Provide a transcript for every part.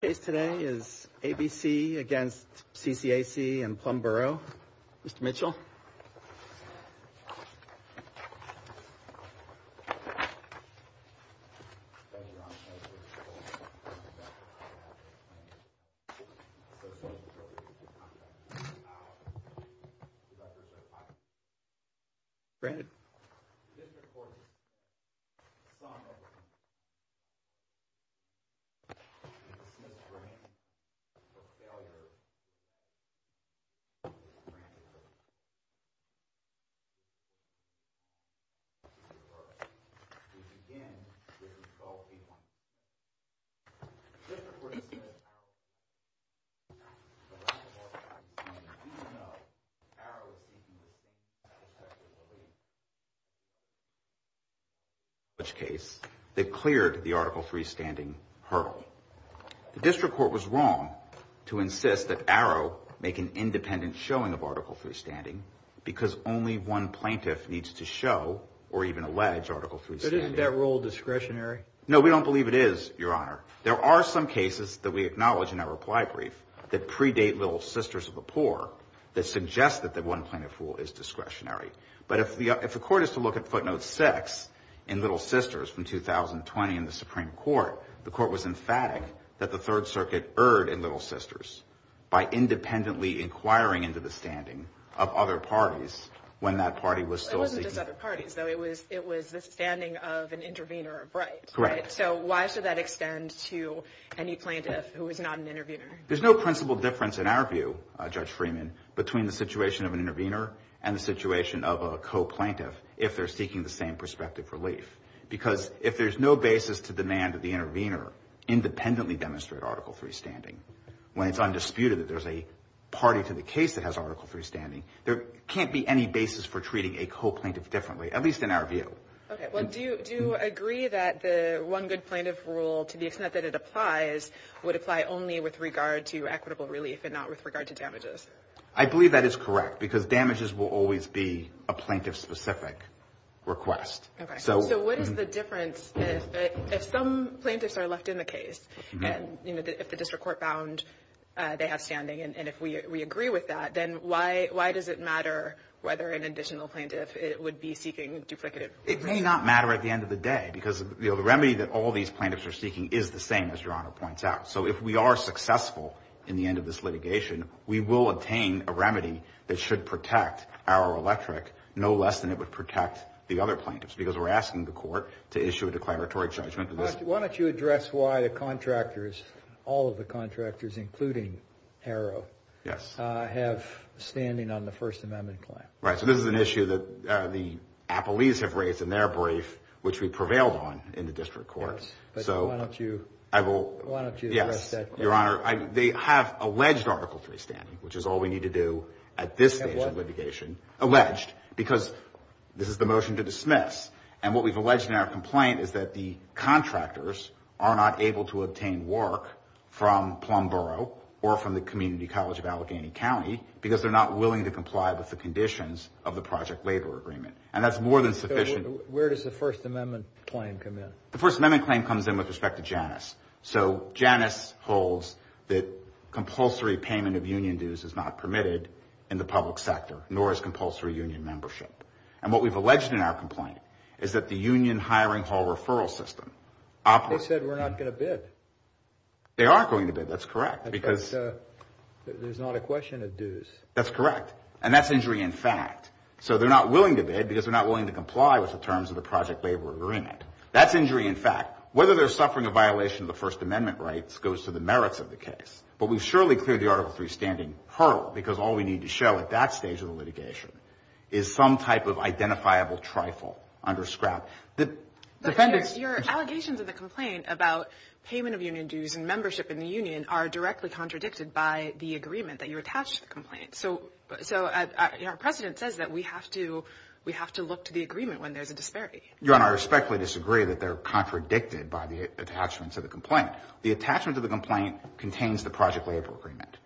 Case today is ABC against CCAC and Plumboro. Mr. Mitchell. Brandon. Right? Which case they cleared the article freestanding hurt. District Court was wrong to insist that arrow make an independent showing of article freestanding because only one plaintiff needs to show or even allege article free. No, we don't believe it is your honor. There are some cases that we acknowledge in our reply brief that predate little sisters of the poor that suggested that one plaintiff rule is discretionary. But if the if the court is to look at footnote six in Little Sisters from 2020 in the Supreme Court, the court was emphatic that the Third Circuit erred in Little Sisters by independently inquiring into the standing of other parties when that party was still. It wasn't just other parties, though. It was it was the standing of an intervener. Right, right. So why should that extend to any plaintiff who is not an interviewer? There's no principle difference in our view, Judge Freeman, between the situation of an intervener and the situation of a coplaint if if they're seeking the same perspective relief. Because if there's no basis to demand that the intervener independently demonstrate article freestanding when it's undisputed that there's a party to the case that has article freestanding, there can't be any basis for treating a coplaint differently, at least in our view. OK, well, do you do agree that the one good plaintiff rule, to the extent that it applies, would apply only with regard to equitable relief and not with regard to damages? I believe that is correct, because damages will always be a plaintiff specific request. So what is the difference if some plaintiffs are left in the case and if the district court found they have standing and if we agree with that, then why? Why does it matter whether an additional plaintiff would be seeking duplicative? It may not matter at the end of the day because the remedy that all these plaintiffs are seeking is the same, as your honor points out. So if we are successful in the end of this litigation, we will obtain a remedy that should protect our electric no less than it would protect the other plaintiffs, because we're asking the court to issue a declaratory judgment. But why don't you address why the contractors, all of the contractors, including Harrow, yes, have standing on the First Amendment claim? Right. So this is an issue that the appellees have raised in their brief, which we prevailed on in the district courts. So why don't you? I will. Why don't you address that? Your honor, they have alleged Article 3 standing, which is all we need to do at this stage of litigation. Alleged because this is the motion to dismiss. And what we've alleged in our complaint is that the contractors are not able to obtain work from Plumboro or from the Community College of Allegheny County because they're not willing to comply with the conditions of the Project Labor Agreement. And that's more than sufficient. Where does the First Amendment claim come in? The First Amendment claim comes in with respect to Janus. So Janus holds that compulsory payment of union dues is not permitted in the public sector, nor is compulsory union membership. And what we've alleged in our complaint is that the union hiring hall referral system. They said we're not going to bid. They are going to bid. That's correct. Because there's not a question of dues. That's correct. And that's injury in fact. So they're not willing to bid because they're not willing to comply with the terms of the Project Labor Agreement. That's injury in fact. Whether they're suffering a violation of the First Amendment rights goes to the merits of the case. But we've surely cleared the Article 3 standing hurl because all we need to show at that stage of the litigation is some type of identifiable trifle under scrap. The defendants. Your allegations of the complaint about payment of union dues and membership in the union are directly contradicted by the agreement that you attach to the complaint. So so our president says that we have to we have to look to the agreement when there's a disparity. Your Honor, I respectfully disagree that they're contradicted by the attachments of the complaint. The attachment of the complaint contains the Project Labor Agreement.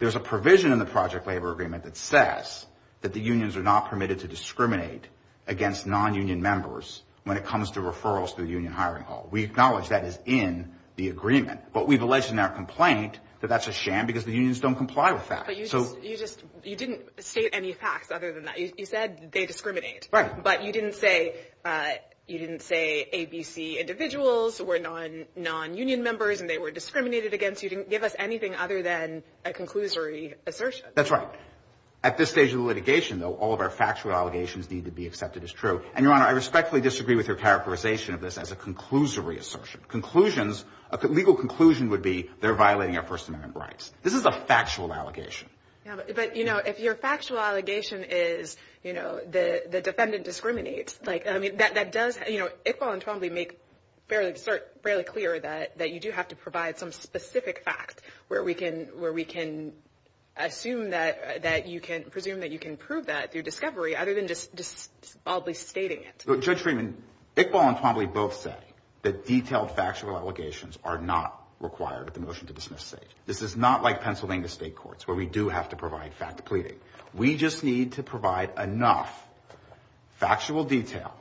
There's a provision in the Project Labor Agreement that says that the unions are not permitted to discriminate against non-union members when it comes to referrals to the union hiring hall. We acknowledge that is in the agreement. But we've alleged in our complaint that that's a sham because the unions don't comply with that. But you just you just you didn't state any facts other than that. You said they discriminate. Right. But you didn't say you didn't say ABC individuals were non-non-union members and they were discriminated against. You didn't give us anything other than a conclusory assertion. That's right. At this stage of litigation, though, all of our factual allegations need to be accepted as true. And, Your Honor, I respectfully disagree with your characterization of this as a conclusory assertion. Conclusions, a legal conclusion would be they're violating our First Amendment rights. This is a factual allegation. But, you know, if your factual allegation is, you know, the defendant discriminates like that, that does, you know, Iqbal and Twombly make fairly fairly clear that that you do have to provide some specific fact where we can where we can assume that that you can presume that you can prove that through discovery other than just just probably stating it. Judge Freeman, Iqbal and Twombly both say that detailed factual allegations are not required at the motion to dismiss. This is not like Pennsylvania state courts where we do have to provide fact pleading. We just need to provide enough factual detail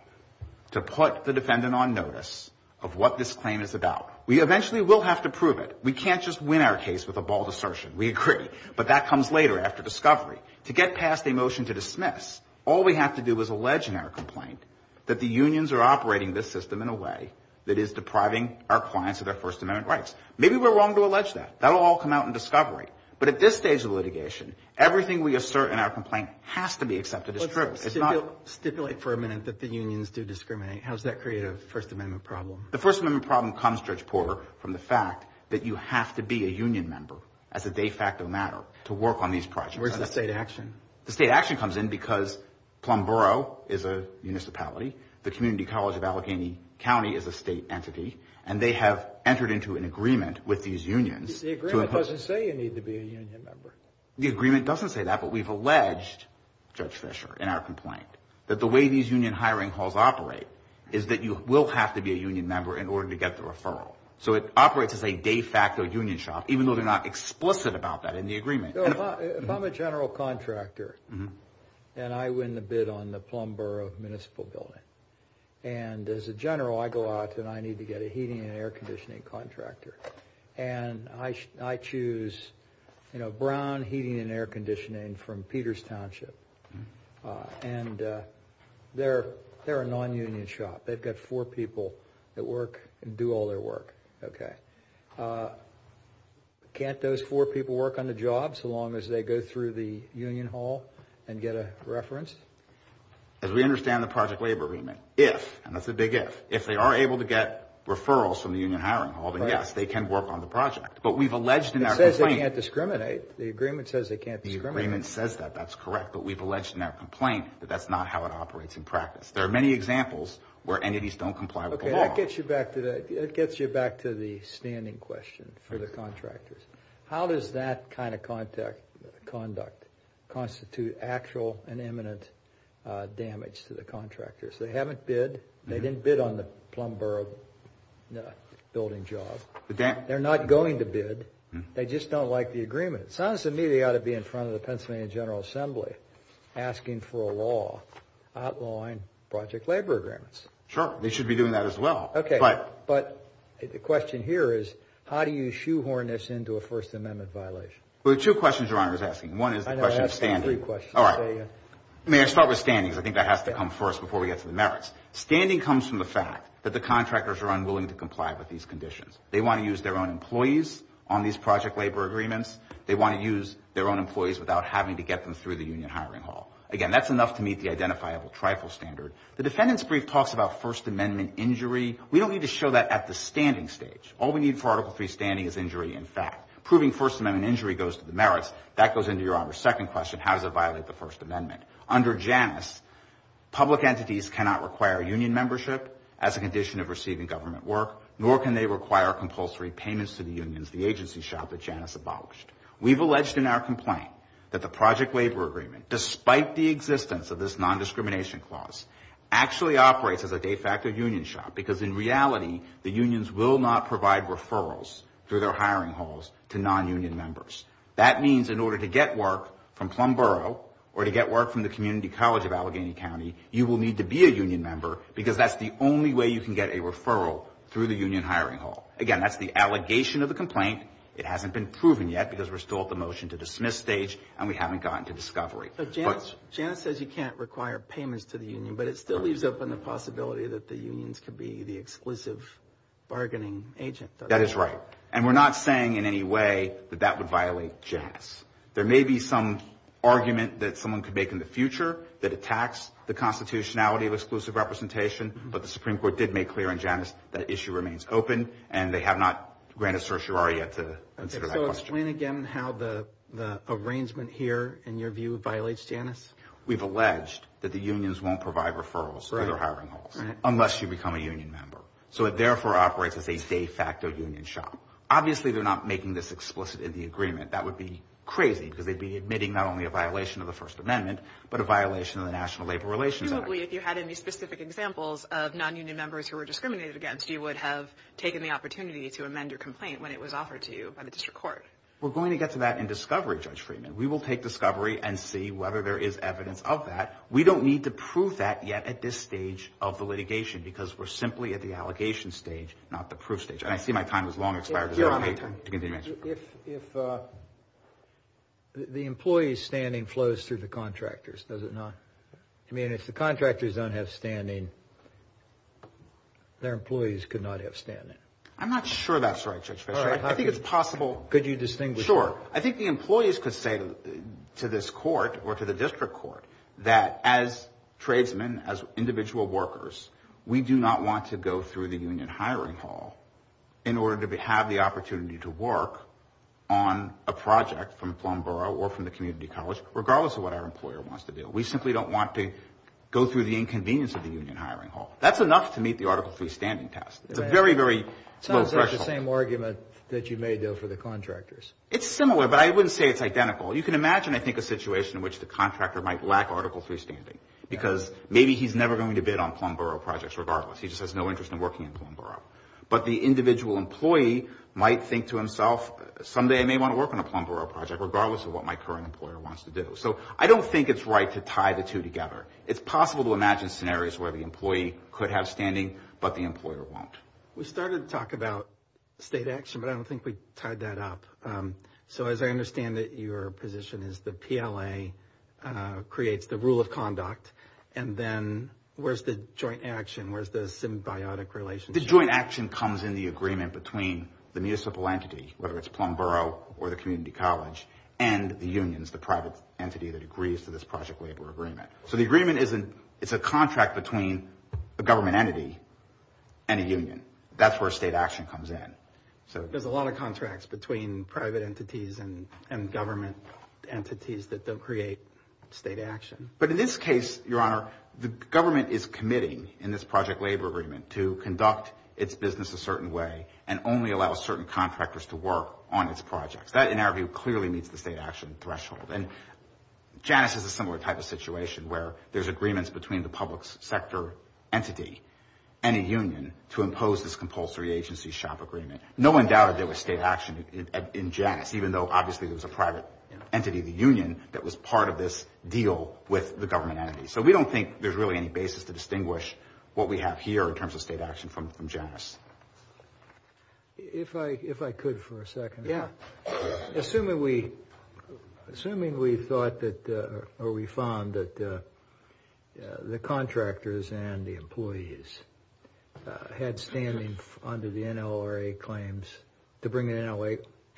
to put the defendant on notice of what this claim is about. We eventually will have to prove it. We can't just win our case with a bald assertion. We agree. But that comes later after discovery. To get past a motion to dismiss, all we have to do is allege in our complaint that the unions are operating this system in a way that is depriving our clients of their First Amendment rights. Maybe we're wrong to allege that. That'll all come out in discovery. But at this stage of litigation, everything we assert in our complaint has to be accepted as true. It's not stipulate for a minute that the unions do discriminate. How does that create a First Amendment problem? The First Amendment problem comes, Judge Porter, from the fact that you have to be a union member as a de facto matter to work on these projects. Where's the state action? The state action comes in because Plum Borough is a municipality. The Community College of Allegheny County is a state entity, and they have entered into an agreement with these unions. The agreement doesn't say you need to be a union member. The agreement doesn't say that, but we've alleged, Judge Fisher, in our complaint, that the way these union hiring halls operate is that you will have to be a union member in order to get the referral. So it operates as a de facto union shop, even though they're not explicit about that in the agreement. If I'm a general contractor and I win the bid on the Plum Borough Municipal Building, and as a general, I go out and I need to get a heating and air conditioning contractor. And I choose, you know, Brown Heating and Air Conditioning from Peters Township. And they're a non-union shop. They've got four people that work and do all their work. Okay. Can't those four people work on the job so long as they go through the union hall and get a reference? As we understand the Project Labor Agreement, if, and that's a big if, if they are able to get referrals from the union hiring hall, then yes, they can work on the project. But we've alleged in our complaint... It says they can't discriminate. The agreement says they can't discriminate. The agreement says that. That's correct. But we've alleged in our complaint that that's not how it operates in practice. There are many examples where entities don't comply with the law. Okay, that gets you back to the standing question for the contractors. How does that kind of conduct constitute actual and imminent damage to the contractors? They haven't bid. They didn't bid on the Plum Borough Building job. They're not going to bid. They just don't like the agreement. It sounds to me they ought to be in front of the Pennsylvania General Assembly asking for a law outlawing Project Labor Agreements. Sure, they should be doing that as well. Okay, but the question here is how do you shoehorn this into a First Amendment violation? There are two questions Your Honor is asking. One is the question of standing. I know, I asked them three questions. All right. May I start with standings? I think that has to come first before we get to the merits. Standing comes from the fact that the contractors are unwilling to comply with these conditions. They want to use their own employees on these Project Labor Agreements. They want to use their own employees without having to get them through the union hiring hall. Again, that's enough to meet the identifiable trifle standard. The defendant's brief talks about First Amendment injury. We don't need to show that at the standing stage. All we need for Article III standing is injury in fact. Proving First Amendment injury goes to the merits. That goes into Your Honor's second question. How does it violate the First Amendment? Under Janus, public entities cannot require union membership as a condition of receiving government work. Nor can they require compulsory payments to the unions, the agency shop that Janus abolished. We've alleged in our complaint that the Project Labor Agreement, despite the existence of this non-discrimination clause, actually operates as a de facto union shop because in reality, the unions will not provide referrals through their hiring halls to non-union members. That means in order to get work from Plum Borough or to get work from the Community College of Allegheny County, you will need to be a union member because that's the only way you can get a referral through the union hiring hall. Again, that's the allegation of the complaint. It hasn't been proven yet because we're still at the motion to dismiss stage and we haven't gotten to discovery. But Janus says you can't require payments to the union, but it still leaves open the possibility that the unions could be the exclusive bargaining agent. That is right. And we're not saying in any way that that would violate Janus. There may be some argument that someone could make in the future that attacks the constitutionality of exclusive representation, but the Supreme Court did make clear in Janus that issue remains open and they have not granted certiorari yet to consider that question. So explain again how the arrangement here, in your view, violates Janus. We've alleged that the unions won't provide referrals through their hiring halls unless you become a union member. So it therefore operates as a de facto union shop. Obviously, they're not making this explicit in the agreement. That would be crazy because they'd be admitting not only a violation of the First Amendment, but a violation of the National Labor Relations Act. Presumably, if you had any specific examples of non-union members who were discriminated against, you would have taken the opportunity to amend your complaint when it was offered to you by the district court. We're going to get to that in discovery, Judge Freeman. We will take discovery and see whether there is evidence of that. We don't need to prove that yet at this stage of the litigation because we're simply at the allegation stage, not the proof stage. And I see my time has long expired. If the employee's standing flows through the contractors, does it not? I mean, if the contractors don't have standing, their employees could not have standing. I'm not sure that's right, Judge Fisher. I think it's possible. Could you distinguish? Sure. I think the employees could say to this court or to the district court that as tradesmen, as individual workers, we do not want to go through the union hiring hall in order to have the opportunity to work on a project from Plum Borough or from the community college, regardless of what our employer wants to do. We simply don't want to go through the inconvenience of the union hiring hall. That's enough to meet the Article III standing test. It's a very, very low threshold. It sounds like the same argument that you made, though, for the contractors. It's similar, but I wouldn't say it's identical. You can imagine, I think, a situation in which the contractor might lack Article III standing because maybe he's never going to bid on Plum Borough projects regardless. He just has no interest in working in Plum Borough. But the individual employee might think to himself, someday I may want to work on a Plum Borough project, regardless of what my current employer wants to do. So I don't think it's right to tie the two together. It's possible to imagine scenarios where the employee could have standing, but the employer won't. We started to talk about state action, but I don't think we tied that up. So as I understand it, your position is the PLA creates the rule of conduct, and then where's the joint action, where's the symbiotic relationship? The joint action comes in the agreement between the municipal entity, whether it's Plum Borough or the community college, and the unions, the private entity that agrees to this project labor agreement. So the agreement is a contract between a government entity and a union. That's where state action comes in. There's a lot of contracts between private entities and government entities that don't create state action. But in this case, Your Honor, the government is committing in this project labor agreement to conduct its business a certain way and only allow certain contractors to work on its projects. That, in our view, clearly meets the state action threshold. And Janus is a similar type of situation where there's agreements between the public sector entity and a union to impose this compulsory agency shop agreement. No one doubted there was state action in Janus, even though obviously there was a private entity, the union, that was part of this deal with the government entity. So we don't think there's really any basis to distinguish what we have here in terms of state action from Janus. If I could for a second. Assuming we found that the contractors and the employees had standing under the NLRA claims, to bring the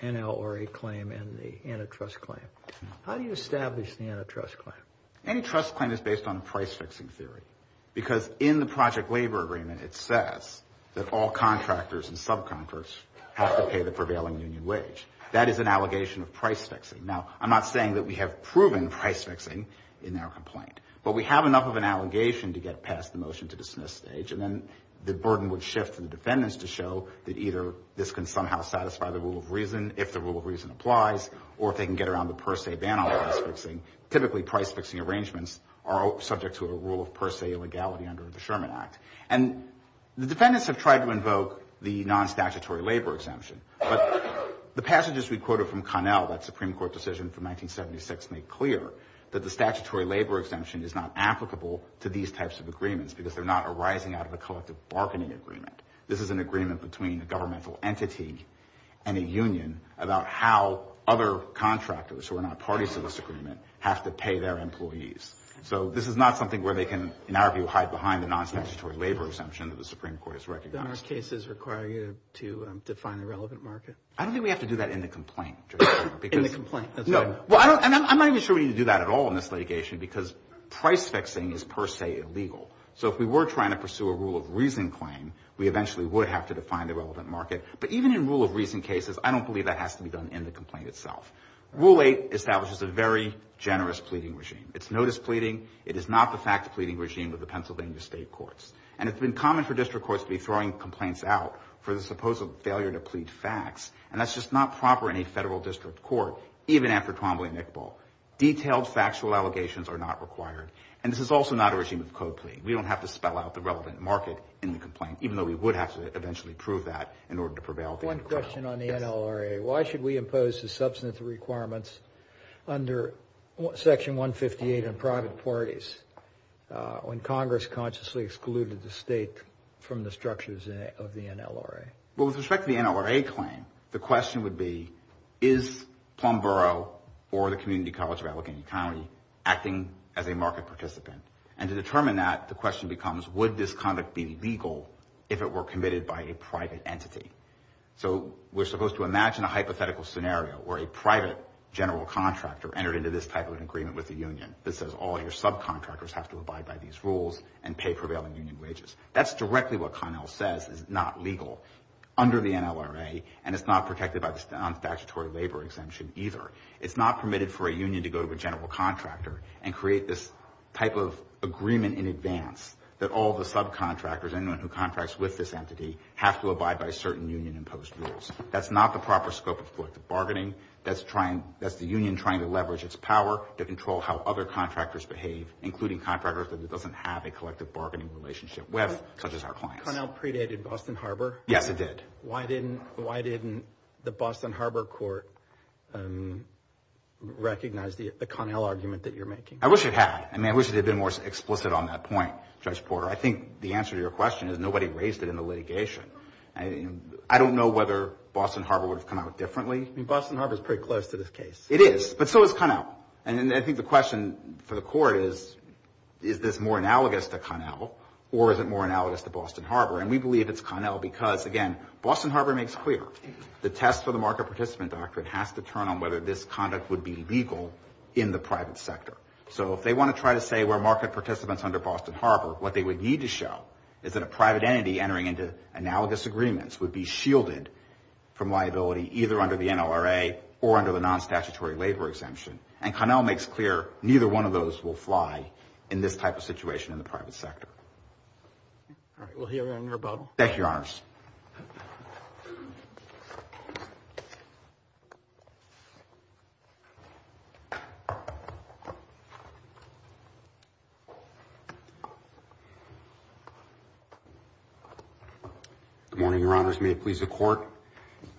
NLRA claim and the antitrust claim, how do you establish the antitrust claim? Antitrust claim is based on price-fixing theory because in the project labor agreement it says that all contractors and subcontractors have to pay the prevailing union wage. That is an allegation of price-fixing. Now, I'm not saying that we have proven price-fixing in our complaint, but we have enough of an allegation to get past the motion to dismiss stage and then the burden would shift to the defendants to show that either this can somehow satisfy the rule of reason, if the rule of reason applies, or if they can get around the per se ban on price-fixing. Typically price-fixing arrangements are subject to a rule of per se illegality under the Sherman Act. Defendants have tried to invoke the non-statutory labor exemption, but the passages we quoted from Connell, that Supreme Court decision from 1976, make clear that the statutory labor exemption is not applicable to these types of agreements because they're not arising out of a collective bargaining agreement. This is an agreement between a governmental entity and a union about how other contractors who are not parties to this agreement have to pay their employees. So this is not something where they can, in our view, hide behind the non-statutory labor exemption that the Supreme Court has recognized. Are there cases requiring you to define the relevant market? I don't think we have to do that in the complaint. In the complaint? No. And I'm not even sure we need to do that at all in this litigation because price-fixing is per se illegal. So if we were trying to pursue a rule of reason claim, we eventually would have to define the relevant market. But even in rule of reason cases, I don't believe that has to be done in the complaint itself. Rule 8 establishes a very generous pleading regime. It's no displeading. It is not the fact-pleading regime of the Pennsylvania state courts. And it's been common for district courts to be throwing complaints out for the supposed failure to plead facts. And that's just not proper in a federal district court, even after Trombley-Nicoll. Detailed factual allegations are not required. And this is also not a regime of code plea. We don't have to spell out the relevant market in the complaint, even though we would have to eventually prove that in order to prevail. One question on the NLRA. Why should we impose the substantive requirements under Section 158 in private parties when Congress consciously excluded the state from the structures of the NLRA? Well, with respect to the NLRA claim, the question would be, is Plum Borough or the Community College of Allegheny County acting as a market participant? And to determine that, the question becomes, would this conduct be legal if it were committed by a private entity? So we're supposed to imagine a hypothetical scenario where a private general contractor entered into this type of an agreement with the union that says all your subcontractors have to abide by these rules and pay prevailing union wages. That's directly what Connell says is not legal under the NLRA, and it's not protected by the statutory labor exemption either. It's not permitted for a union to go to a general contractor and create this type of agreement in advance that all the subcontractors, anyone who contracts with this entity, have to abide by certain union-imposed rules. That's not the proper scope of collective bargaining. That's the union trying to leverage its power to control how other contractors behave, including contractors that it doesn't have a collective bargaining relationship with, such as our clients. But Connell predated Boston Harbor? Yes, it did. Why didn't the Boston Harbor court recognize the Connell argument that you're making? I wish it had. I mean, I wish it had been more explicit on that point, Judge Porter. I think the answer to your question is nobody raised it in the litigation. I don't know whether Boston Harbor would have come out differently. It is, but so is Connell. And I think the question for the court is, is this more analogous to Connell or is it more analogous to Boston Harbor? And we believe it's Connell because, again, Boston Harbor makes clear the test for the market participant doctrine has to turn on whether this conduct would be legal in the private sector. So if they want to try to say we're market participants under Boston Harbor, what they would need to show is that a private entity entering into analogous agreements would be shielded from liability either under the NLRA or under the non-statutory labor exemption. And Connell makes clear neither one of those will fly in this type of situation in the private sector. All right. We'll hear you on your rebuttal. Thank you, Your Honors. Good morning, Your Honors. May it please the Court.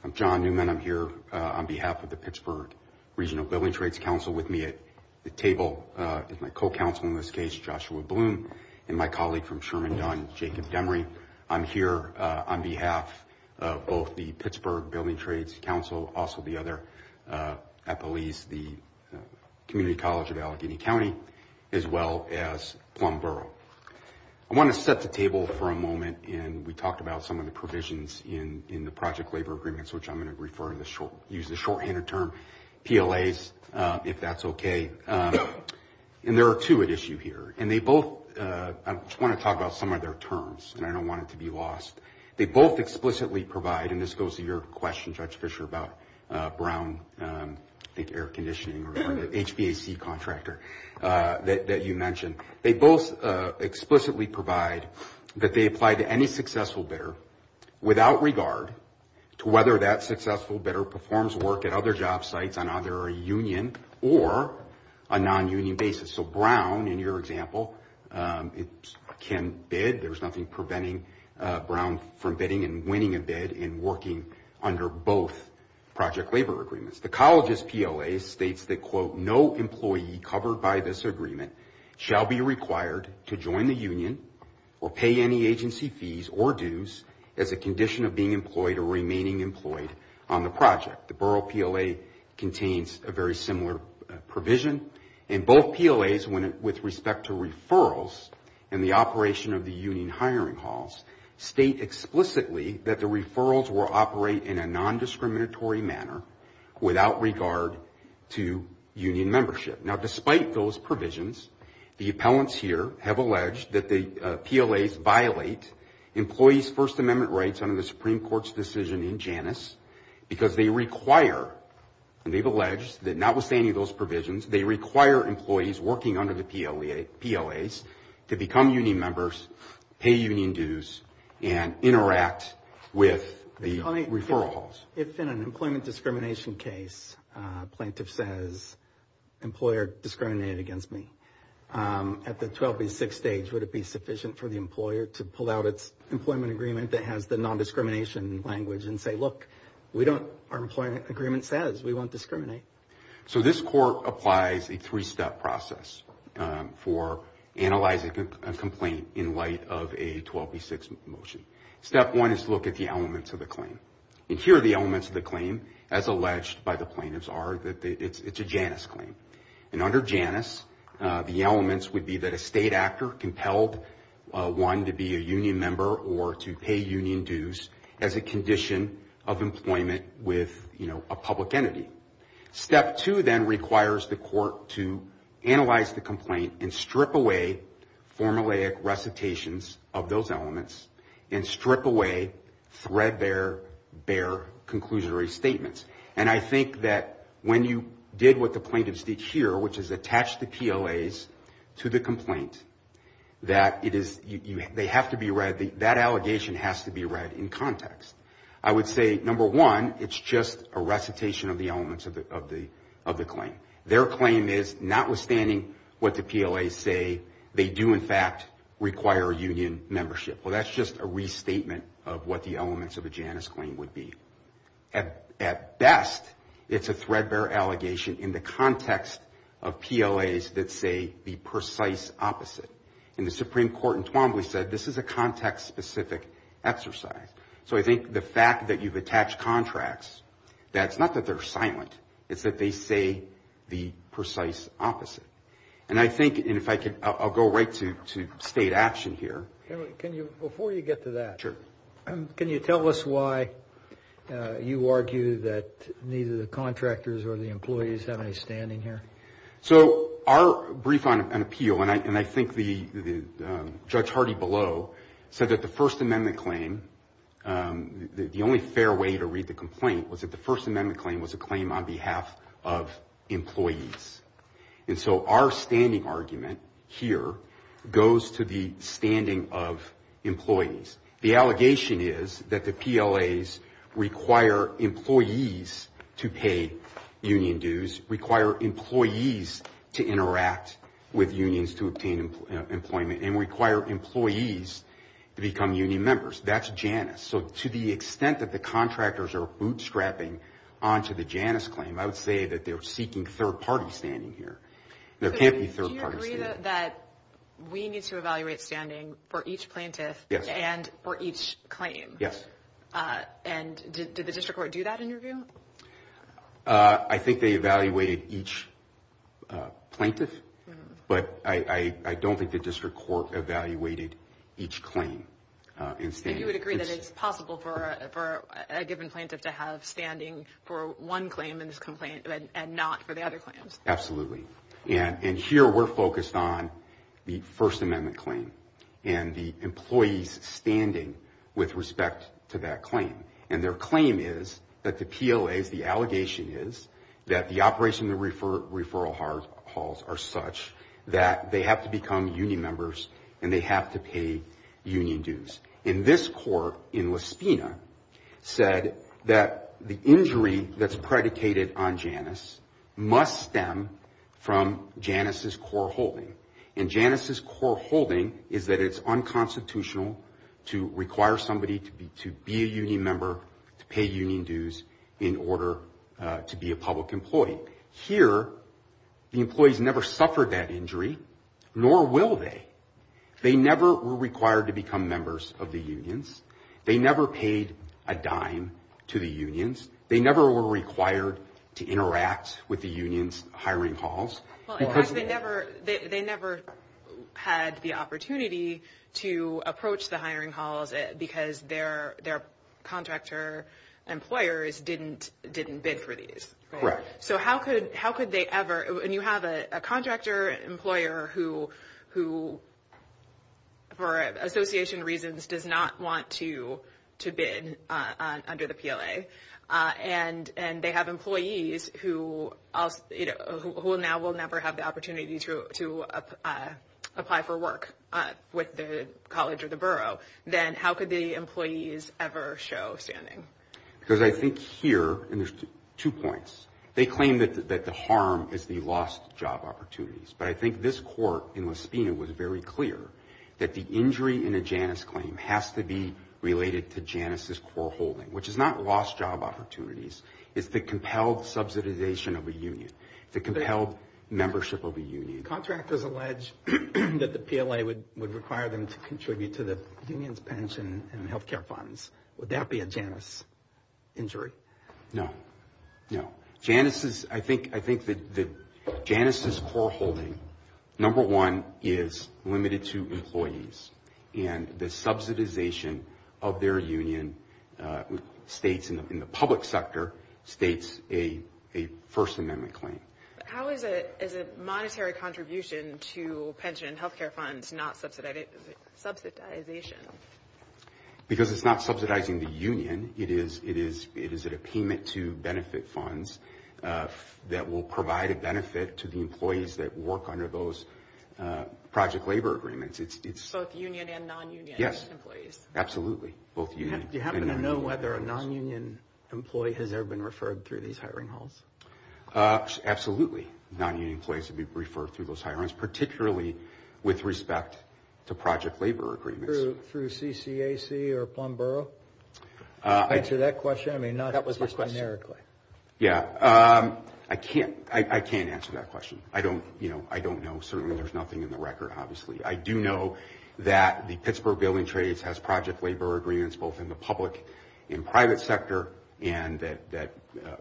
I'm John Newman. I'm here on behalf of the Pittsburgh Regional Building Trades Council and the table is my co-counsel in this case, Joshua Bloom, and my colleague from Sherman Dunn, Jacob Demery. I'm here on behalf of both the Pittsburgh Building Trades Council, also the other at Belize, the Community College of Allegheny County, as well as Plum Borough. I want to set the table for a moment, and we talked about some of the provisions in the project labor agreements, which I'm going to use the shorthanded term PLAs, if that's okay. And there are two at issue here. And they both, I just want to talk about some of their terms, and I don't want it to be lost. They both explicitly provide, and this goes to your question, Judge Fischer, about Brown, I think air conditioning, or the HVAC contractor that you mentioned. They both explicitly provide that they apply to any successful bidder without regard to whether that successful bidder performs work at other job sites on either a union or a non-union basis. So Brown, in your example, can bid. There's nothing preventing Brown from bidding and winning a bid and working under both project labor agreements. The college's PLA states that, quote, no employee covered by this agreement shall be required to join the union or pay any agency fees or dues as a condition of being employed or remaining employed on the project. The Borough PLA contains a very similar provision. And both PLAs, with respect to referrals and the operation of the union hiring halls, state explicitly that the referrals will operate in a non-discriminatory manner without regard to union membership. Now, despite those provisions, the appellants here have alleged that the PLAs violate employees' First Amendment rights under the Supreme Court's decision in Janus because they require, and they've alleged that notwithstanding those provisions, they require employees working under the PLAs to become union members, pay union dues, and interact with the referral halls. If in an employment discrimination case a plaintiff says, employer discriminated against me, at the 12B6 stage, would it be sufficient for the employer to pull out its employment agreement that has the non-discrimination language and say, look, we don't, our employment agreement says we won't discriminate? So this court applies a three-step process for analyzing a complaint in light of a 12B6 motion. Step one is to look at the elements of the claim. And here are the elements of the claim, as alleged by the plaintiffs, are that it's a Janus claim. And under Janus, the elements would be that a state actor compelled one to be a union member or to pay union dues as a condition of employment with, you know, a public entity. Step two then requires the court to analyze the complaint and strip away formulaic recitations of those elements and strip away threadbare, bare conclusionary statements. And I think that when you did what the plaintiffs did here, which is attach the PLAs to the complaint, that it is, they have to be read, that allegation has to be read in context. I would say, number one, it's just a recitation of the elements of the claim. Their claim is, notwithstanding what the PLAs say, they do in fact require union membership. Well, that's just a restatement of what the elements of a Janus claim would be. At best, it's a threadbare allegation in the context of PLAs that say the precise opposite. And the Supreme Court in Twombly said this is a context-specific exercise. So I think the fact that you've attached contracts, that's not that they're silent. It's that they say the precise opposite. And I think, and if I could, I'll go right to state action here. Can you, before you get to that. Sure. Can you tell us why you argue that neither the contractors or the employees have any standing here? Okay. So our brief on appeal, and I think Judge Hardy below said that the First Amendment claim, the only fair way to read the complaint was that the First Amendment claim was a claim on behalf of employees. And so our standing argument here goes to the standing of employees. The allegation is that the PLAs require employees to pay union dues, require employees to interact with unions to obtain employment, and require employees to become union members. That's Janus. So to the extent that the contractors are bootstrapping onto the Janus claim, I would say that they're seeking third-party standing here. There can't be third-party standing. Do you agree that we need to evaluate standing for each plaintiff? Yes. And for each claim? Yes. And did the district court do that in your view? I think they evaluated each plaintiff, but I don't think the district court evaluated each claim. And you would agree that it's possible for a given plaintiff to have standing for one claim in this complaint and not for the other claims? Absolutely. And here we're focused on the First Amendment claim and the employees' standing with respect to that claim. And their claim is that the PLAs, the allegation is, that the operation of the referral halls are such that they have to become union members and they have to pay union dues. And this court in La Spina said that the injury that's predicated on Janus must stem from Janus' core holding. And Janus' core holding is that it's unconstitutional to require somebody to be a union member to pay union dues in order to be a public employee. Here, the employees never suffered that injury, nor will they. They never were required to become members of the unions. They never paid a dime to the unions. They never were required to interact with the unions' hiring halls. Because they never had the opportunity to approach the hiring halls because their contractor employers didn't bid for these. Correct. So how could they ever? And you have a contractor employer who, for association reasons, does not want to bid under the PLA. And they have employees who now will never have the opportunity to apply for work with the college or the borough. Then how could the employees ever show standing? Because I think here, and there's two points, they claim that the harm is the lost job opportunities. But I think this court in Lespina was very clear that the injury in a Janus claim has to be related to Janus' core holding, which is not lost job opportunities. It's the compelled subsidization of a union, the compelled membership of a union. Contractors allege that the PLA would require them to contribute to the union's pension and health care funds. Would that be a Janus injury? No, no. I think that Janus' core holding, number one, is limited to employees. And the subsidization of their union states in the public sector states a First Amendment claim. How is a monetary contribution to pension and health care funds not subsidization? Because it's not subsidizing the union. It is a payment to benefit funds that will provide a benefit to the employees that work under those project labor agreements. It's both union and non-union employees. Yes, absolutely, both union and non-union employees. Do you happen to know whether a non-union employee has ever been referred through these hiring halls? Absolutely, non-union employees would be referred through those hiring halls, particularly with respect to project labor agreements. Through CCAC or Plum Borough? Can you answer that question? That was my question. Yeah. I can't answer that question. I don't know. Certainly, there's nothing in the record, obviously. I do know that the Pittsburgh Building Trades has project labor agreements both in the public and private sector and that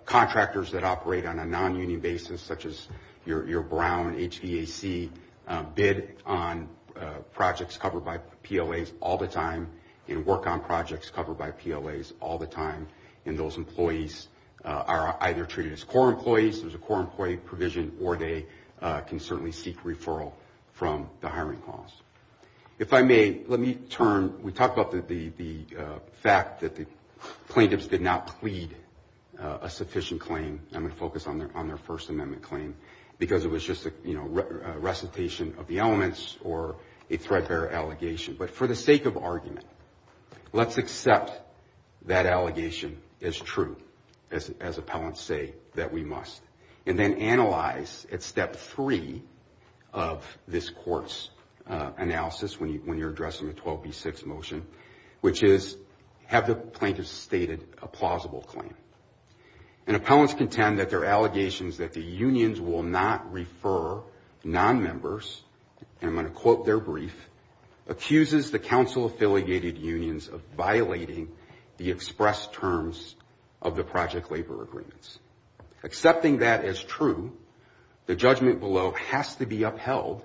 contractors that operate on a non-union basis such as your Brown HVAC bid on projects covered by PLAs all the time and work on projects covered by PLAs all the time and those employees are either treated as core employees, there's a core employee provision, or they can certainly seek referral from the hiring halls. If I may, let me turn. We talked about the fact that the plaintiffs did not plead a sufficient claim. I'm going to focus on their First Amendment claim because it was just a recitation of the elements or a threat bearer allegation. But for the sake of argument, let's accept that allegation as true as appellants say that we must. And then analyze at step three of this court's analysis when you're addressing the 12B6 motion, which is have the plaintiffs stated a plausible claim? And appellants contend that their allegations that the unions will not refer non-members, and I'm going to quote their brief, accuses the council-affiliated unions of violating the express terms of the project labor agreements. Accepting that as true, the judgment below has to be upheld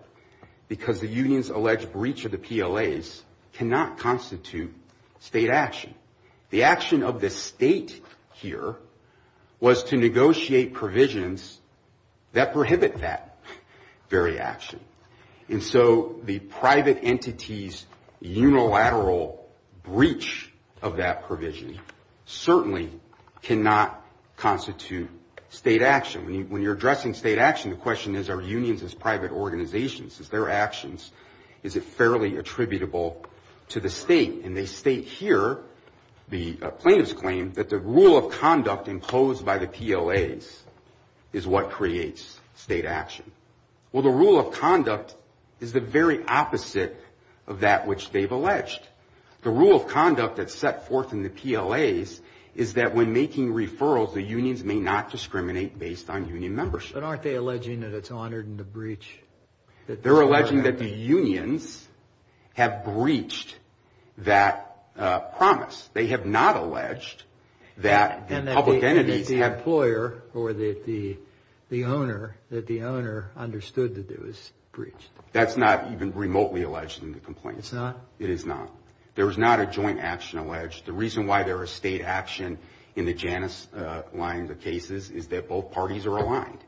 because the union's alleged breach of the PLAs cannot constitute state action. The action of the state here was to negotiate provisions that prohibit that very action. And so the private entity's unilateral breach of that provision certainly cannot constitute state action. When you're addressing state action, the question is are unions as private organizations? Is their actions, is it fairly attributable to the state? And they state here, the plaintiff's claim, that the rule of conduct imposed by the PLAs is what creates state action. Well, the rule of conduct is the very opposite of that which they've alleged. The rule of conduct that's set forth in the PLAs is that when making referrals, the unions may not discriminate based on union membership. But aren't they alleging that it's honored in the breach? They're alleging that the unions have breached that promise. They have not alleged that the public entities have. And that the employer or that the owner, that the owner understood that it was breached. That's not even remotely alleged in the complaint. It's not? It is not. There is not a joint action alleged. The reason why there is state action in the Janus line of cases is that both parties are aligned.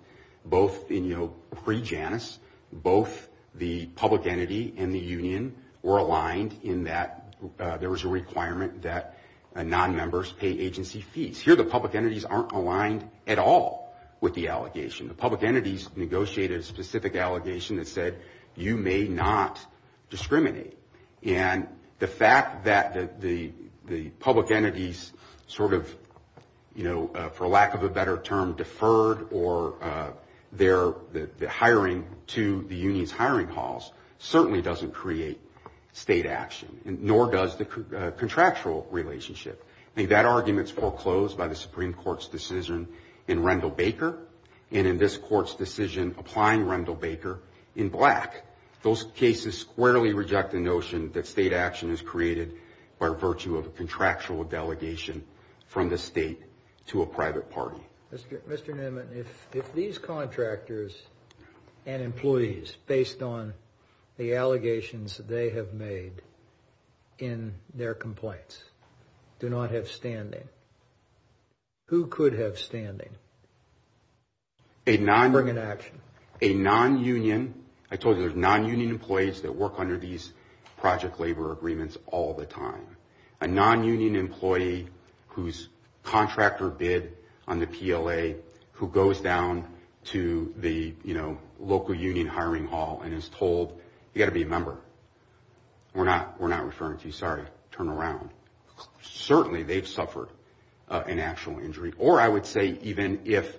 Both in, you know, pre-Janus, both the public entity and the union were aligned in that there was a requirement that nonmembers pay agency fees. Here the public entities aren't aligned at all with the allegation. The public entities negotiated a specific allegation that said you may not discriminate. And the fact that the public entities sort of, you know, for lack of a better term, deferred or their hiring to the union's hiring halls, certainly doesn't create state action. Nor does the contractual relationship. I think that argument's foreclosed by the Supreme Court's decision in Rendell Baker. And in this court's decision applying Rendell Baker in black. Those cases squarely reject the notion that state action is created by virtue of a contractual delegation from the state to a private party. Mr. Nimmit, if these contractors and employees, based on the allegations they have made in their complaints, do not have standing, who could have standing? A non- To bring an action. A non-union. I told you there's non-union employees that work under these project labor agreements all the time. A non-union employee whose contractor bid on the PLA who goes down to the, you know, local union hiring hall and is told, you got to be a member. We're not referring to you. Sorry. Turn around. Certainly they've suffered an actual injury. Or I would say even if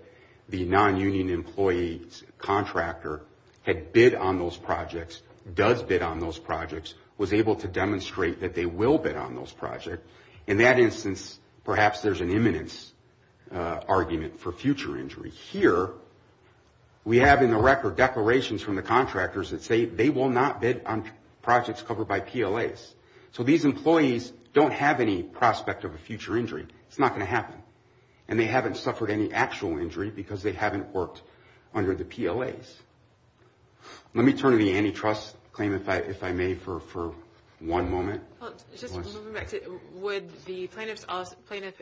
the non-union employee's contractor had bid on those projects, does bid on those projects, was able to demonstrate that they will bid on those projects. In that instance, perhaps there's an imminence argument for future injury. Here we have in the record declarations from the contractors that say they will not bid on projects covered by PLAs. So these employees don't have any prospect of a future injury. It's not going to happen. And they haven't suffered any actual injury because they haven't worked under the PLAs. Let me turn to the antitrust claim, if I may, for one moment. Well, just moving back to it, would the plaintiff's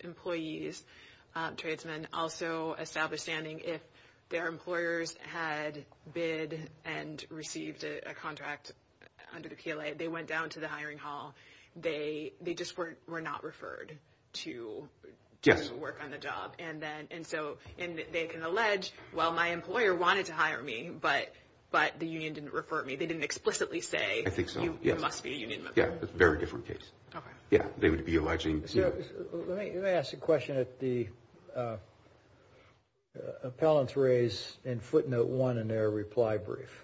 employees, tradesmen, also establish standing if their employers had bid and received a contract under the PLA? They went down to the hiring hall. They just were not referred to- Yes. And so they can allege, well, my employer wanted to hire me, but the union didn't refer me. They didn't explicitly say- I think so, yes. You must be a union member. Yes. It's a very different case. Okay. Yes. They would be alleging- Let me ask a question that the appellants raised in footnote one in their reply brief.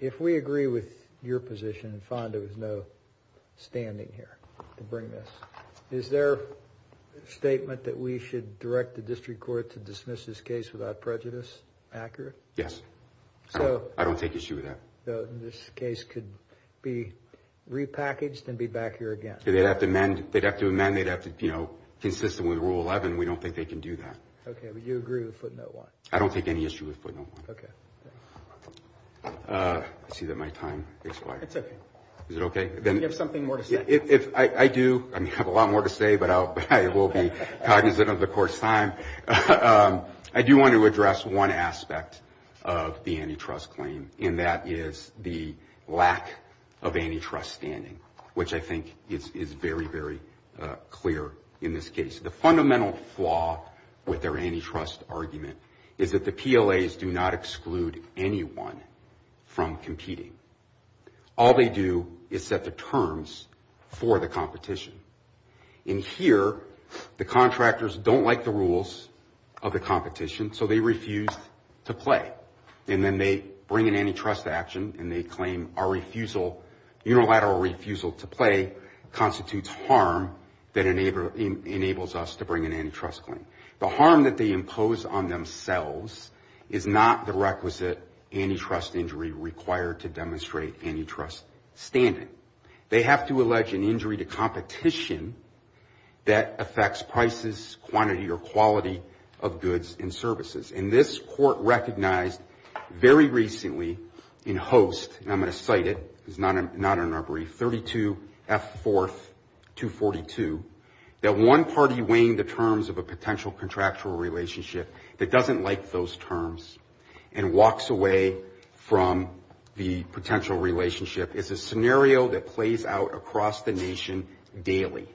If we agree with your position and find there was no standing here to bring this, is their statement that we should direct the district court to dismiss this case without prejudice accurate? Yes. So- I don't take issue with that. This case could be repackaged and be back here again. They'd have to amend. They'd have to amend. They'd have to, you know, consistent with rule 11. We don't think they can do that. Okay. But you agree with footnote one? I don't take any issue with footnote one. Okay. I see that my time expired. It's okay. Is it okay? Do you have something more to say? I do. I have a lot more to say, but I will be cognizant of the court's time. I do want to address one aspect of the antitrust claim, and that is the lack of antitrust standing, which I think is very, very clear in this case. The fundamental flaw with their antitrust argument is that the PLAs do not exclude anyone from competing. All they do is set the terms for the competition. And here, the contractors don't like the rules of the competition, so they refuse to play. And then they bring an antitrust action, and they claim our refusal, unilateral refusal to play, constitutes harm that enables us to bring an antitrust claim. The harm that they impose on themselves is not the requisite antitrust injury required to demonstrate antitrust standing. They have to allege an injury to competition that affects prices, quantity, or quality of goods and services. And this court recognized very recently in Hoste, and I'm going to cite it because it's not in our brief, 32F4242, that one party weighing the terms of a potential contractual relationship that doesn't like those terms and walks away from the potential relationship is a scenario that plays out across the nation daily,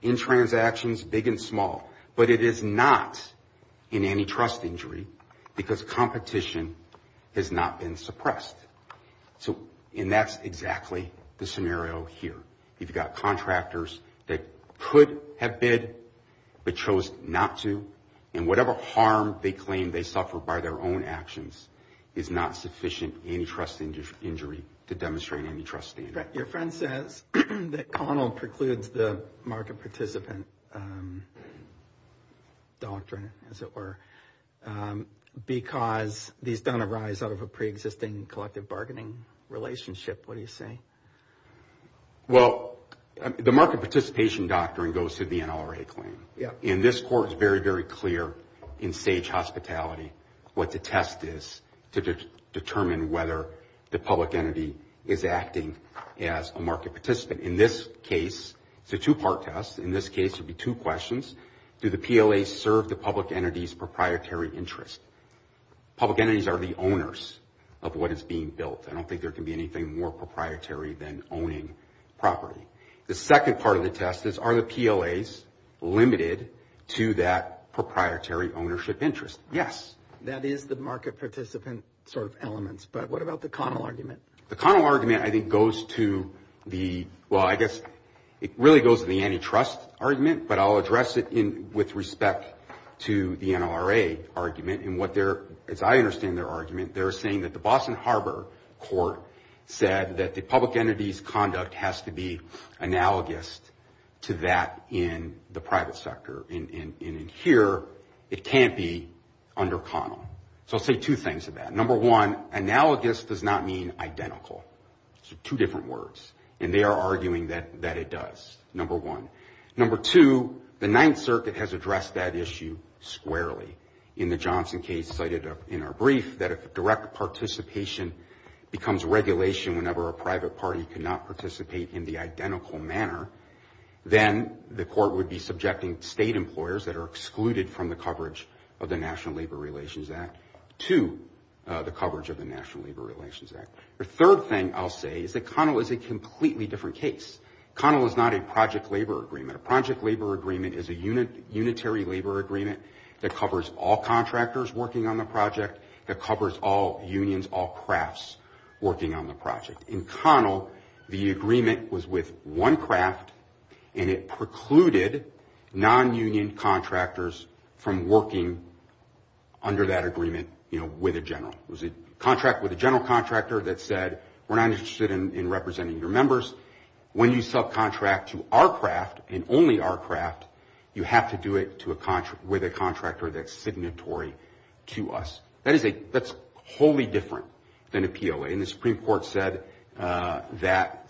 in transactions big and small, but it is not an antitrust injury because competition has not been suppressed. And that's exactly the scenario here. You've got contractors that could have bid but chose not to, and whatever harm they claim they suffer by their own actions is not sufficient antitrust injury to demonstrate antitrust standing. Your friend says that Connell precludes the market participant doctrine, as it were, because these don't arise out of a preexisting collective bargaining relationship. What do you say? Well, the market participation doctrine goes through the NLRA claim. And this court is very, very clear in Sage Hospitality what the test is to determine whether the public entity is acting as a market participant. In this case, it's a two-part test. In this case, it would be two questions. Do the PLAs serve the public entity's proprietary interest? Public entities are the owners of what is being built. I don't think there can be anything more proprietary than owning property. The second part of the test is are the PLAs limited to that proprietary ownership interest? Yes. That is the market participant sort of elements, but what about the Connell argument? The Connell argument, I think, goes to the, well, I guess it really goes to the antitrust argument, but I'll address it with respect to the NLRA argument. And what they're, as I understand their argument, they're saying that the Boston Harbor court said that the public entity's conduct has to be analogous to that in the private sector. And in here, it can't be under Connell. So I'll say two things about it. Number one, analogous does not mean identical. So two different words. And they are arguing that it does, number one. Number two, the Ninth Circuit has addressed that issue squarely in the Johnson case cited in our brief that if direct participation becomes regulation whenever a private party cannot participate in the identical manner, then the court would be subjecting state employers that are excluded from the coverage of the National Labor Relations Act to the coverage of the National Labor Relations Act. The third thing I'll say is that Connell is a completely different case. Connell is not a project labor agreement. A project labor agreement is a unitary labor agreement that covers all contractors working on the project, that covers all unions, all crafts working on the project. In Connell, the agreement was with one craft, and it precluded non-union contractors from working under that agreement, you know, with a general. It was a contract with a general contractor that said, we're not interested in representing your members. When you subcontract to our craft and only our craft, you have to do it with a contractor that's signatory to us. That's wholly different than a PLA. And the Supreme Court said that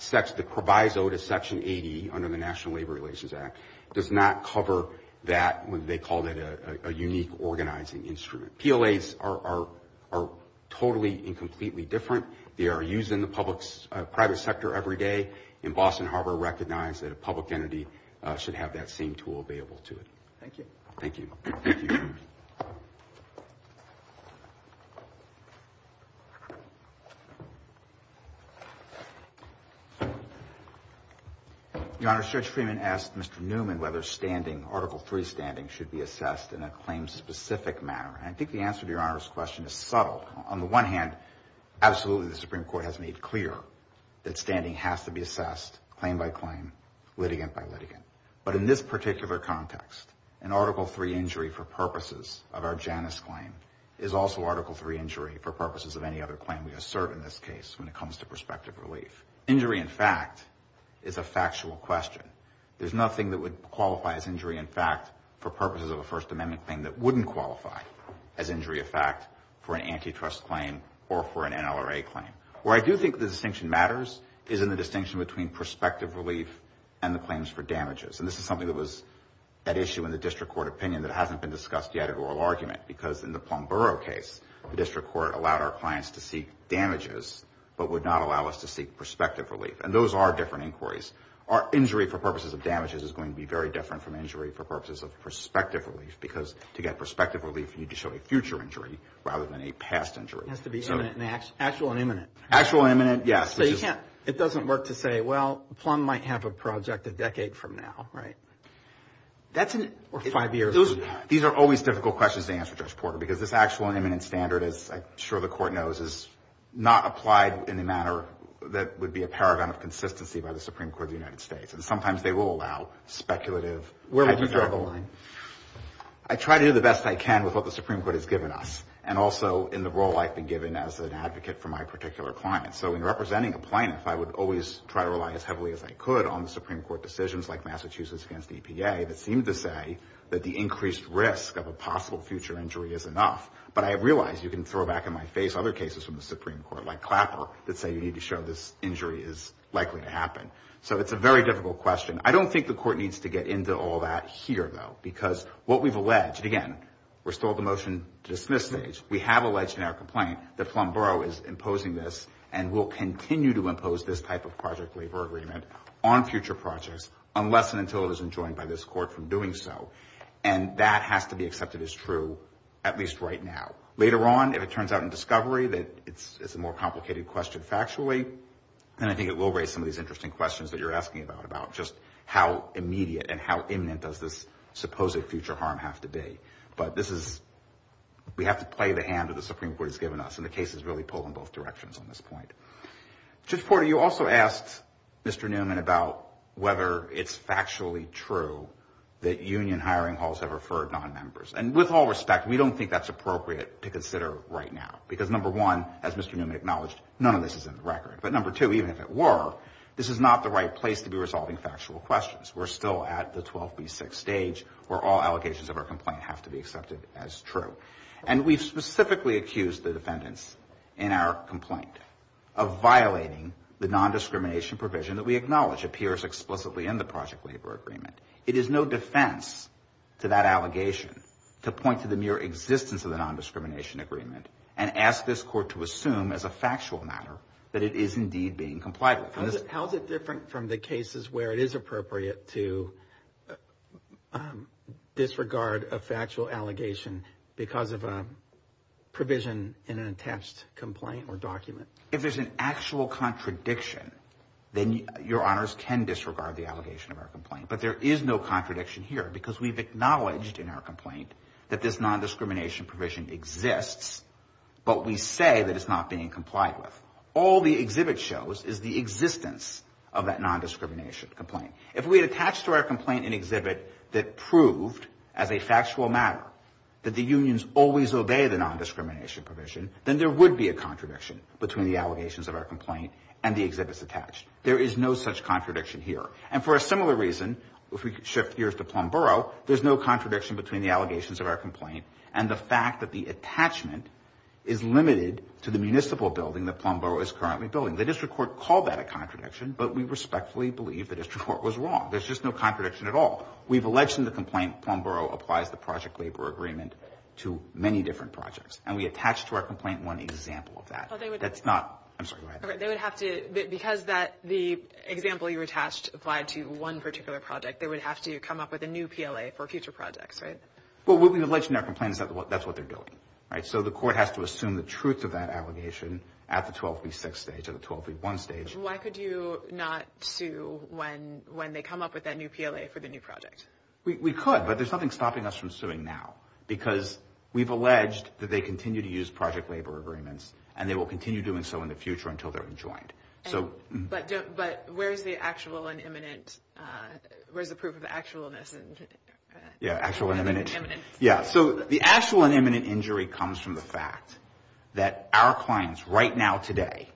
the proviso to Section 80 under the National Labor Relations Act does not cover that when they called it a unique organizing instrument. PLAs are totally and completely different. They are used in the private sector every day. And Boston Harbor recognized that a public entity should have that same tool available to it. Thank you. Thank you. Thank you. Your Honor, Judge Freeman asked Mr. Newman whether standing, Article III standing, should be assessed in a claim-specific manner. And I think the answer to Your Honor's question is subtle. On the one hand, absolutely the Supreme Court has made clear that standing has to be assessed, claim by claim, litigant by litigant. But in this particular context, an Article III injury for purposes of our Janus claim is also Article III injury for purposes of any other claim we assert in this case when it comes to prospective relief. Injury in fact is a factual question. There's nothing that would qualify as injury in fact for purposes of a First Amendment claim that wouldn't qualify as injury of fact for an antitrust claim or for an NLRA claim. Where I do think the distinction matters is in the distinction between prospective relief and the claims for damages. And this is something that was at issue in the district court opinion that hasn't been discussed yet at oral argument because in the Plum Borough case, the district court allowed our clients to seek damages but would not allow us to seek prospective relief. And those are different inquiries. Injury for purposes of damages is going to be very different from injury for purposes of prospective relief where you get prospective relief and you need to show a future injury rather than a past injury. It has to be actual and imminent. Actual and imminent, yes. So it doesn't work to say, well, Plum might have a project a decade from now, right? Or five years from now. These are always difficult questions to answer, Judge Porter, because this actual and imminent standard, as I'm sure the Court knows, is not applied in a manner that would be a paragon of consistency by the Supreme Court of the United States. And sometimes they will allow speculative. Where would you draw the line? I do the best I can with what the Supreme Court has given us. And also in the role I've been given as an advocate for my particular client. So in representing a plaintiff, I would always try to rely as heavily as I could on the Supreme Court decisions like Massachusetts against EPA that seem to say that the increased risk of a possible future injury is enough. But I realize you can throw back in my face other cases from the Supreme Court, like Clapper, that say you need to show this injury is likely to happen. So it's a very difficult question. I don't think the Court needs to get into all that here, though. Because what we've alleged, again, we're still at the motion-to-dismiss stage. We have alleged in our complaint that Flomborough is imposing this and will continue to impose this type of project labor agreement on future projects unless and until it is enjoined by this Court from doing so. And that has to be accepted as true, at least right now. Later on, if it turns out in discovery that it's a more complicated question factually, then I think it will raise some of these interesting questions that you're asking about, just how immediate and how imminent does this supposed future harm have to be. But this is we have to play the hand that the Supreme Court has given us. And the case has really pulled in both directions on this point. Judge Porter, you also asked Mr. Newman about whether it's factually true that union hiring halls have referred nonmembers. And with all respect, we don't think that's appropriate to consider right now. Because, number one, as Mr. Newman acknowledged, none of this is in the record. But, number two, even if it were, this is not the right place to be resolving factual questions. We're still at the 12B6 stage where all allegations of our complaint have to be accepted as true. And we've specifically accused the defendants in our complaint of violating the nondiscrimination provision that we acknowledge appears explicitly in the project labor agreement. It is no defense to that allegation to point to the mere existence of the nondiscrimination agreement and ask this court to assume as a factual matter that it is indeed being complied with. How is it different from the cases where it is appropriate to disregard a factual allegation because of a provision in an attached complaint or document? If there's an actual contradiction, then your honors can disregard the allegation of our complaint. But there is no contradiction here because we've acknowledged in our complaint that this nondiscrimination provision exists, but we say that it's not being complied with. All the exhibit shows is the existence of that nondiscrimination complaint. If we had attached to our complaint an exhibit that proved as a factual matter that the unions always obey the nondiscrimination provision, then there would be a contradiction between the allegations of our complaint and the exhibits attached. There is no such contradiction here. And for a similar reason, if we shift gears to Plum Borough, there's no contradiction between the allegations of our complaint and the fact that the attachment is limited to the municipal building that Plum Borough is currently building. The district court called that a contradiction, but we respectfully believe the district court was wrong. There's just no contradiction at all. We've alleged in the complaint Plum Borough applies the project labor agreement to many different projects. And we attach to our complaint one example of that. That's not – I'm sorry, go ahead. They would have to – because the example you attached applied to one particular project, they would have to come up with a new PLA for future projects, right? Well, we've alleged in our complaint that that's what they're doing, right? So the court has to assume the truth of that allegation at the 12v6 stage, at the 12v1 stage. Why could you not sue when they come up with that new PLA for the new project? We could, but there's nothing stopping us from suing now because we've alleged that they continue to use project labor agreements and they will continue doing so in the future until they're enjoined. But where's the actual and imminent – where's the proof of actualness? Yeah, actual and imminent. Yeah, so the actual and imminent injury comes from the fact that our clients right now today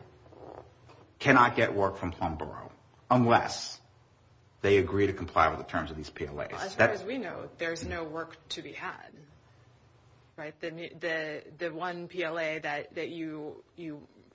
cannot get work from Plum Borough unless they agree to comply with the terms of these PLAs. As far as we know, there's no work to be had, right? The one PLA that you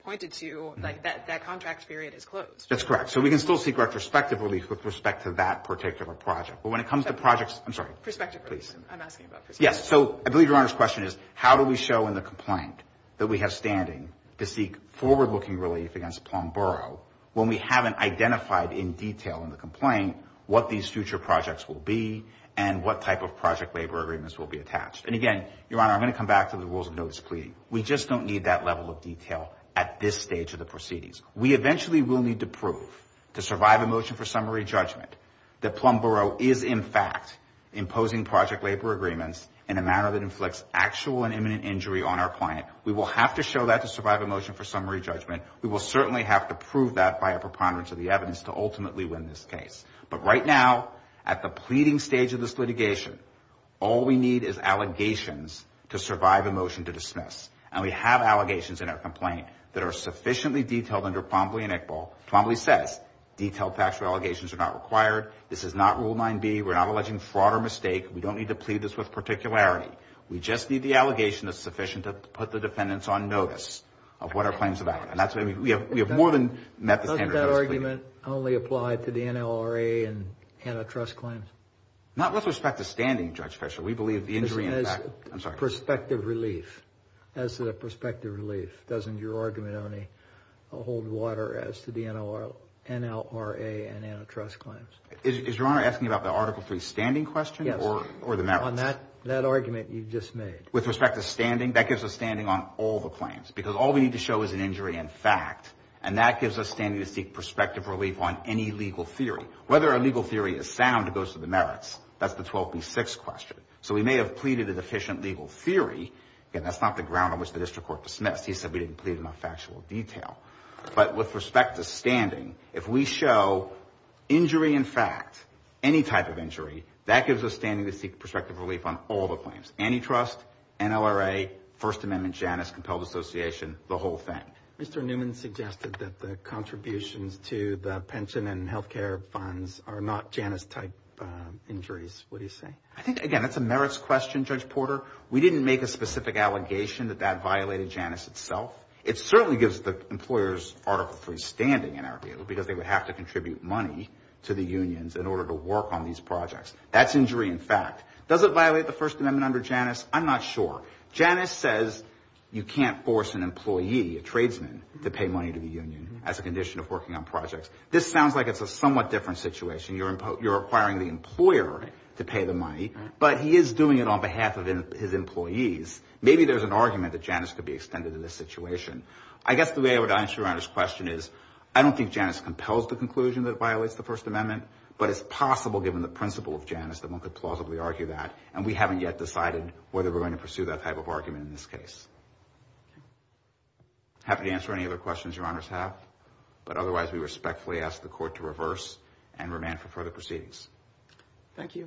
pointed to, that contract period is closed. That's correct. So we can still seek retrospective relief with respect to that particular project. But when it comes to projects – I'm sorry. Perspective relief. I'm asking about perspective relief. Yes, so I believe Your Honor's question is how do we show in the complaint that we have standing to seek forward-looking relief against Plum Borough when we haven't identified in detail in the complaint what these future projects will be and what type of project labor agreements will be attached? And again, Your Honor, I'm going to come back to the rules of notice pleading. We just don't need that level of detail at this stage of the proceedings. We eventually will need to prove to survive a motion for summary judgment that Plum Borough is in fact imposing project labor agreements in a manner that inflicts actual and imminent injury on our client. We will have to show that to survive a motion for summary judgment. We will certainly have to prove that by a preponderance of the evidence to ultimately win this case. But right now, at the pleading stage of this litigation, all we need is allegations to survive a motion to dismiss. And we have allegations in our complaint that are sufficiently detailed under Plumblee and Iqbal. Plumblee says detailed factual allegations are not required. This is not Rule 9B. We're not alleging fraud or mistake. We don't need to plead this with particularity. We just need the allegation that's sufficient to put the defendants on notice of what our claim is about. And that's what we have more than met the standard. Doesn't that argument only apply to the NLRA and antitrust claims? Not with respect to standing, Judge Fischer. We believe the injury in fact... As perspective relief. As a perspective relief. Doesn't your argument only hold water as to the NLRA and antitrust claims? Is Your Honor asking about the Article 3 standing question? Yes. Or the merits? On that argument you just made. With respect to standing? That gives us standing on all the claims. Because all we need to show is an injury in fact. And that gives us standing to seek perspective relief on any legal theory. Whether a legal theory is sound goes to the merits. That's the 12B6 question. So we may have pleaded a deficient legal theory. Again, that's not the ground on which the district court dismissed. He said we didn't plead enough factual detail. But with respect to standing, if we show injury in fact, any type of injury, that gives us standing to seek perspective relief on all the claims. Antitrust, NLRA, First Amendment, Janus, Compelled Association, the whole thing. Mr. Newman suggested that the contributions to the pension and health care funds are not Janus type injuries. What do you say? I think, again, that's a merits question, Judge Porter. We didn't make a specific allegation that that violated Janus itself. It certainly gives the employers Article 3 standing, in our view, because they would have to contribute money to the unions in order to work on these projects. That's injury in fact. Does it violate the First Amendment under Janus? I'm not sure. Janus says you can't force an employee. A tradesman to pay money to the union as a condition of working on projects. This sounds like it's a somewhat different situation. You're requiring the employer to pay the money. But he is doing it on behalf of his employees. Maybe there's an argument that Janus could be extended in this situation. I guess the way I would answer your Honor's question is I don't think Janus compels the conclusion that it violates the First Amendment. But it's possible, given the principle of Janus, that one could plausibly argue that. And we haven't yet decided whether we're going to pursue that type of argument in this case. Happy to answer any other questions your Honors have. But otherwise, we respectfully ask the Court to reverse and remand for further proceedings. Thank you. Thank you.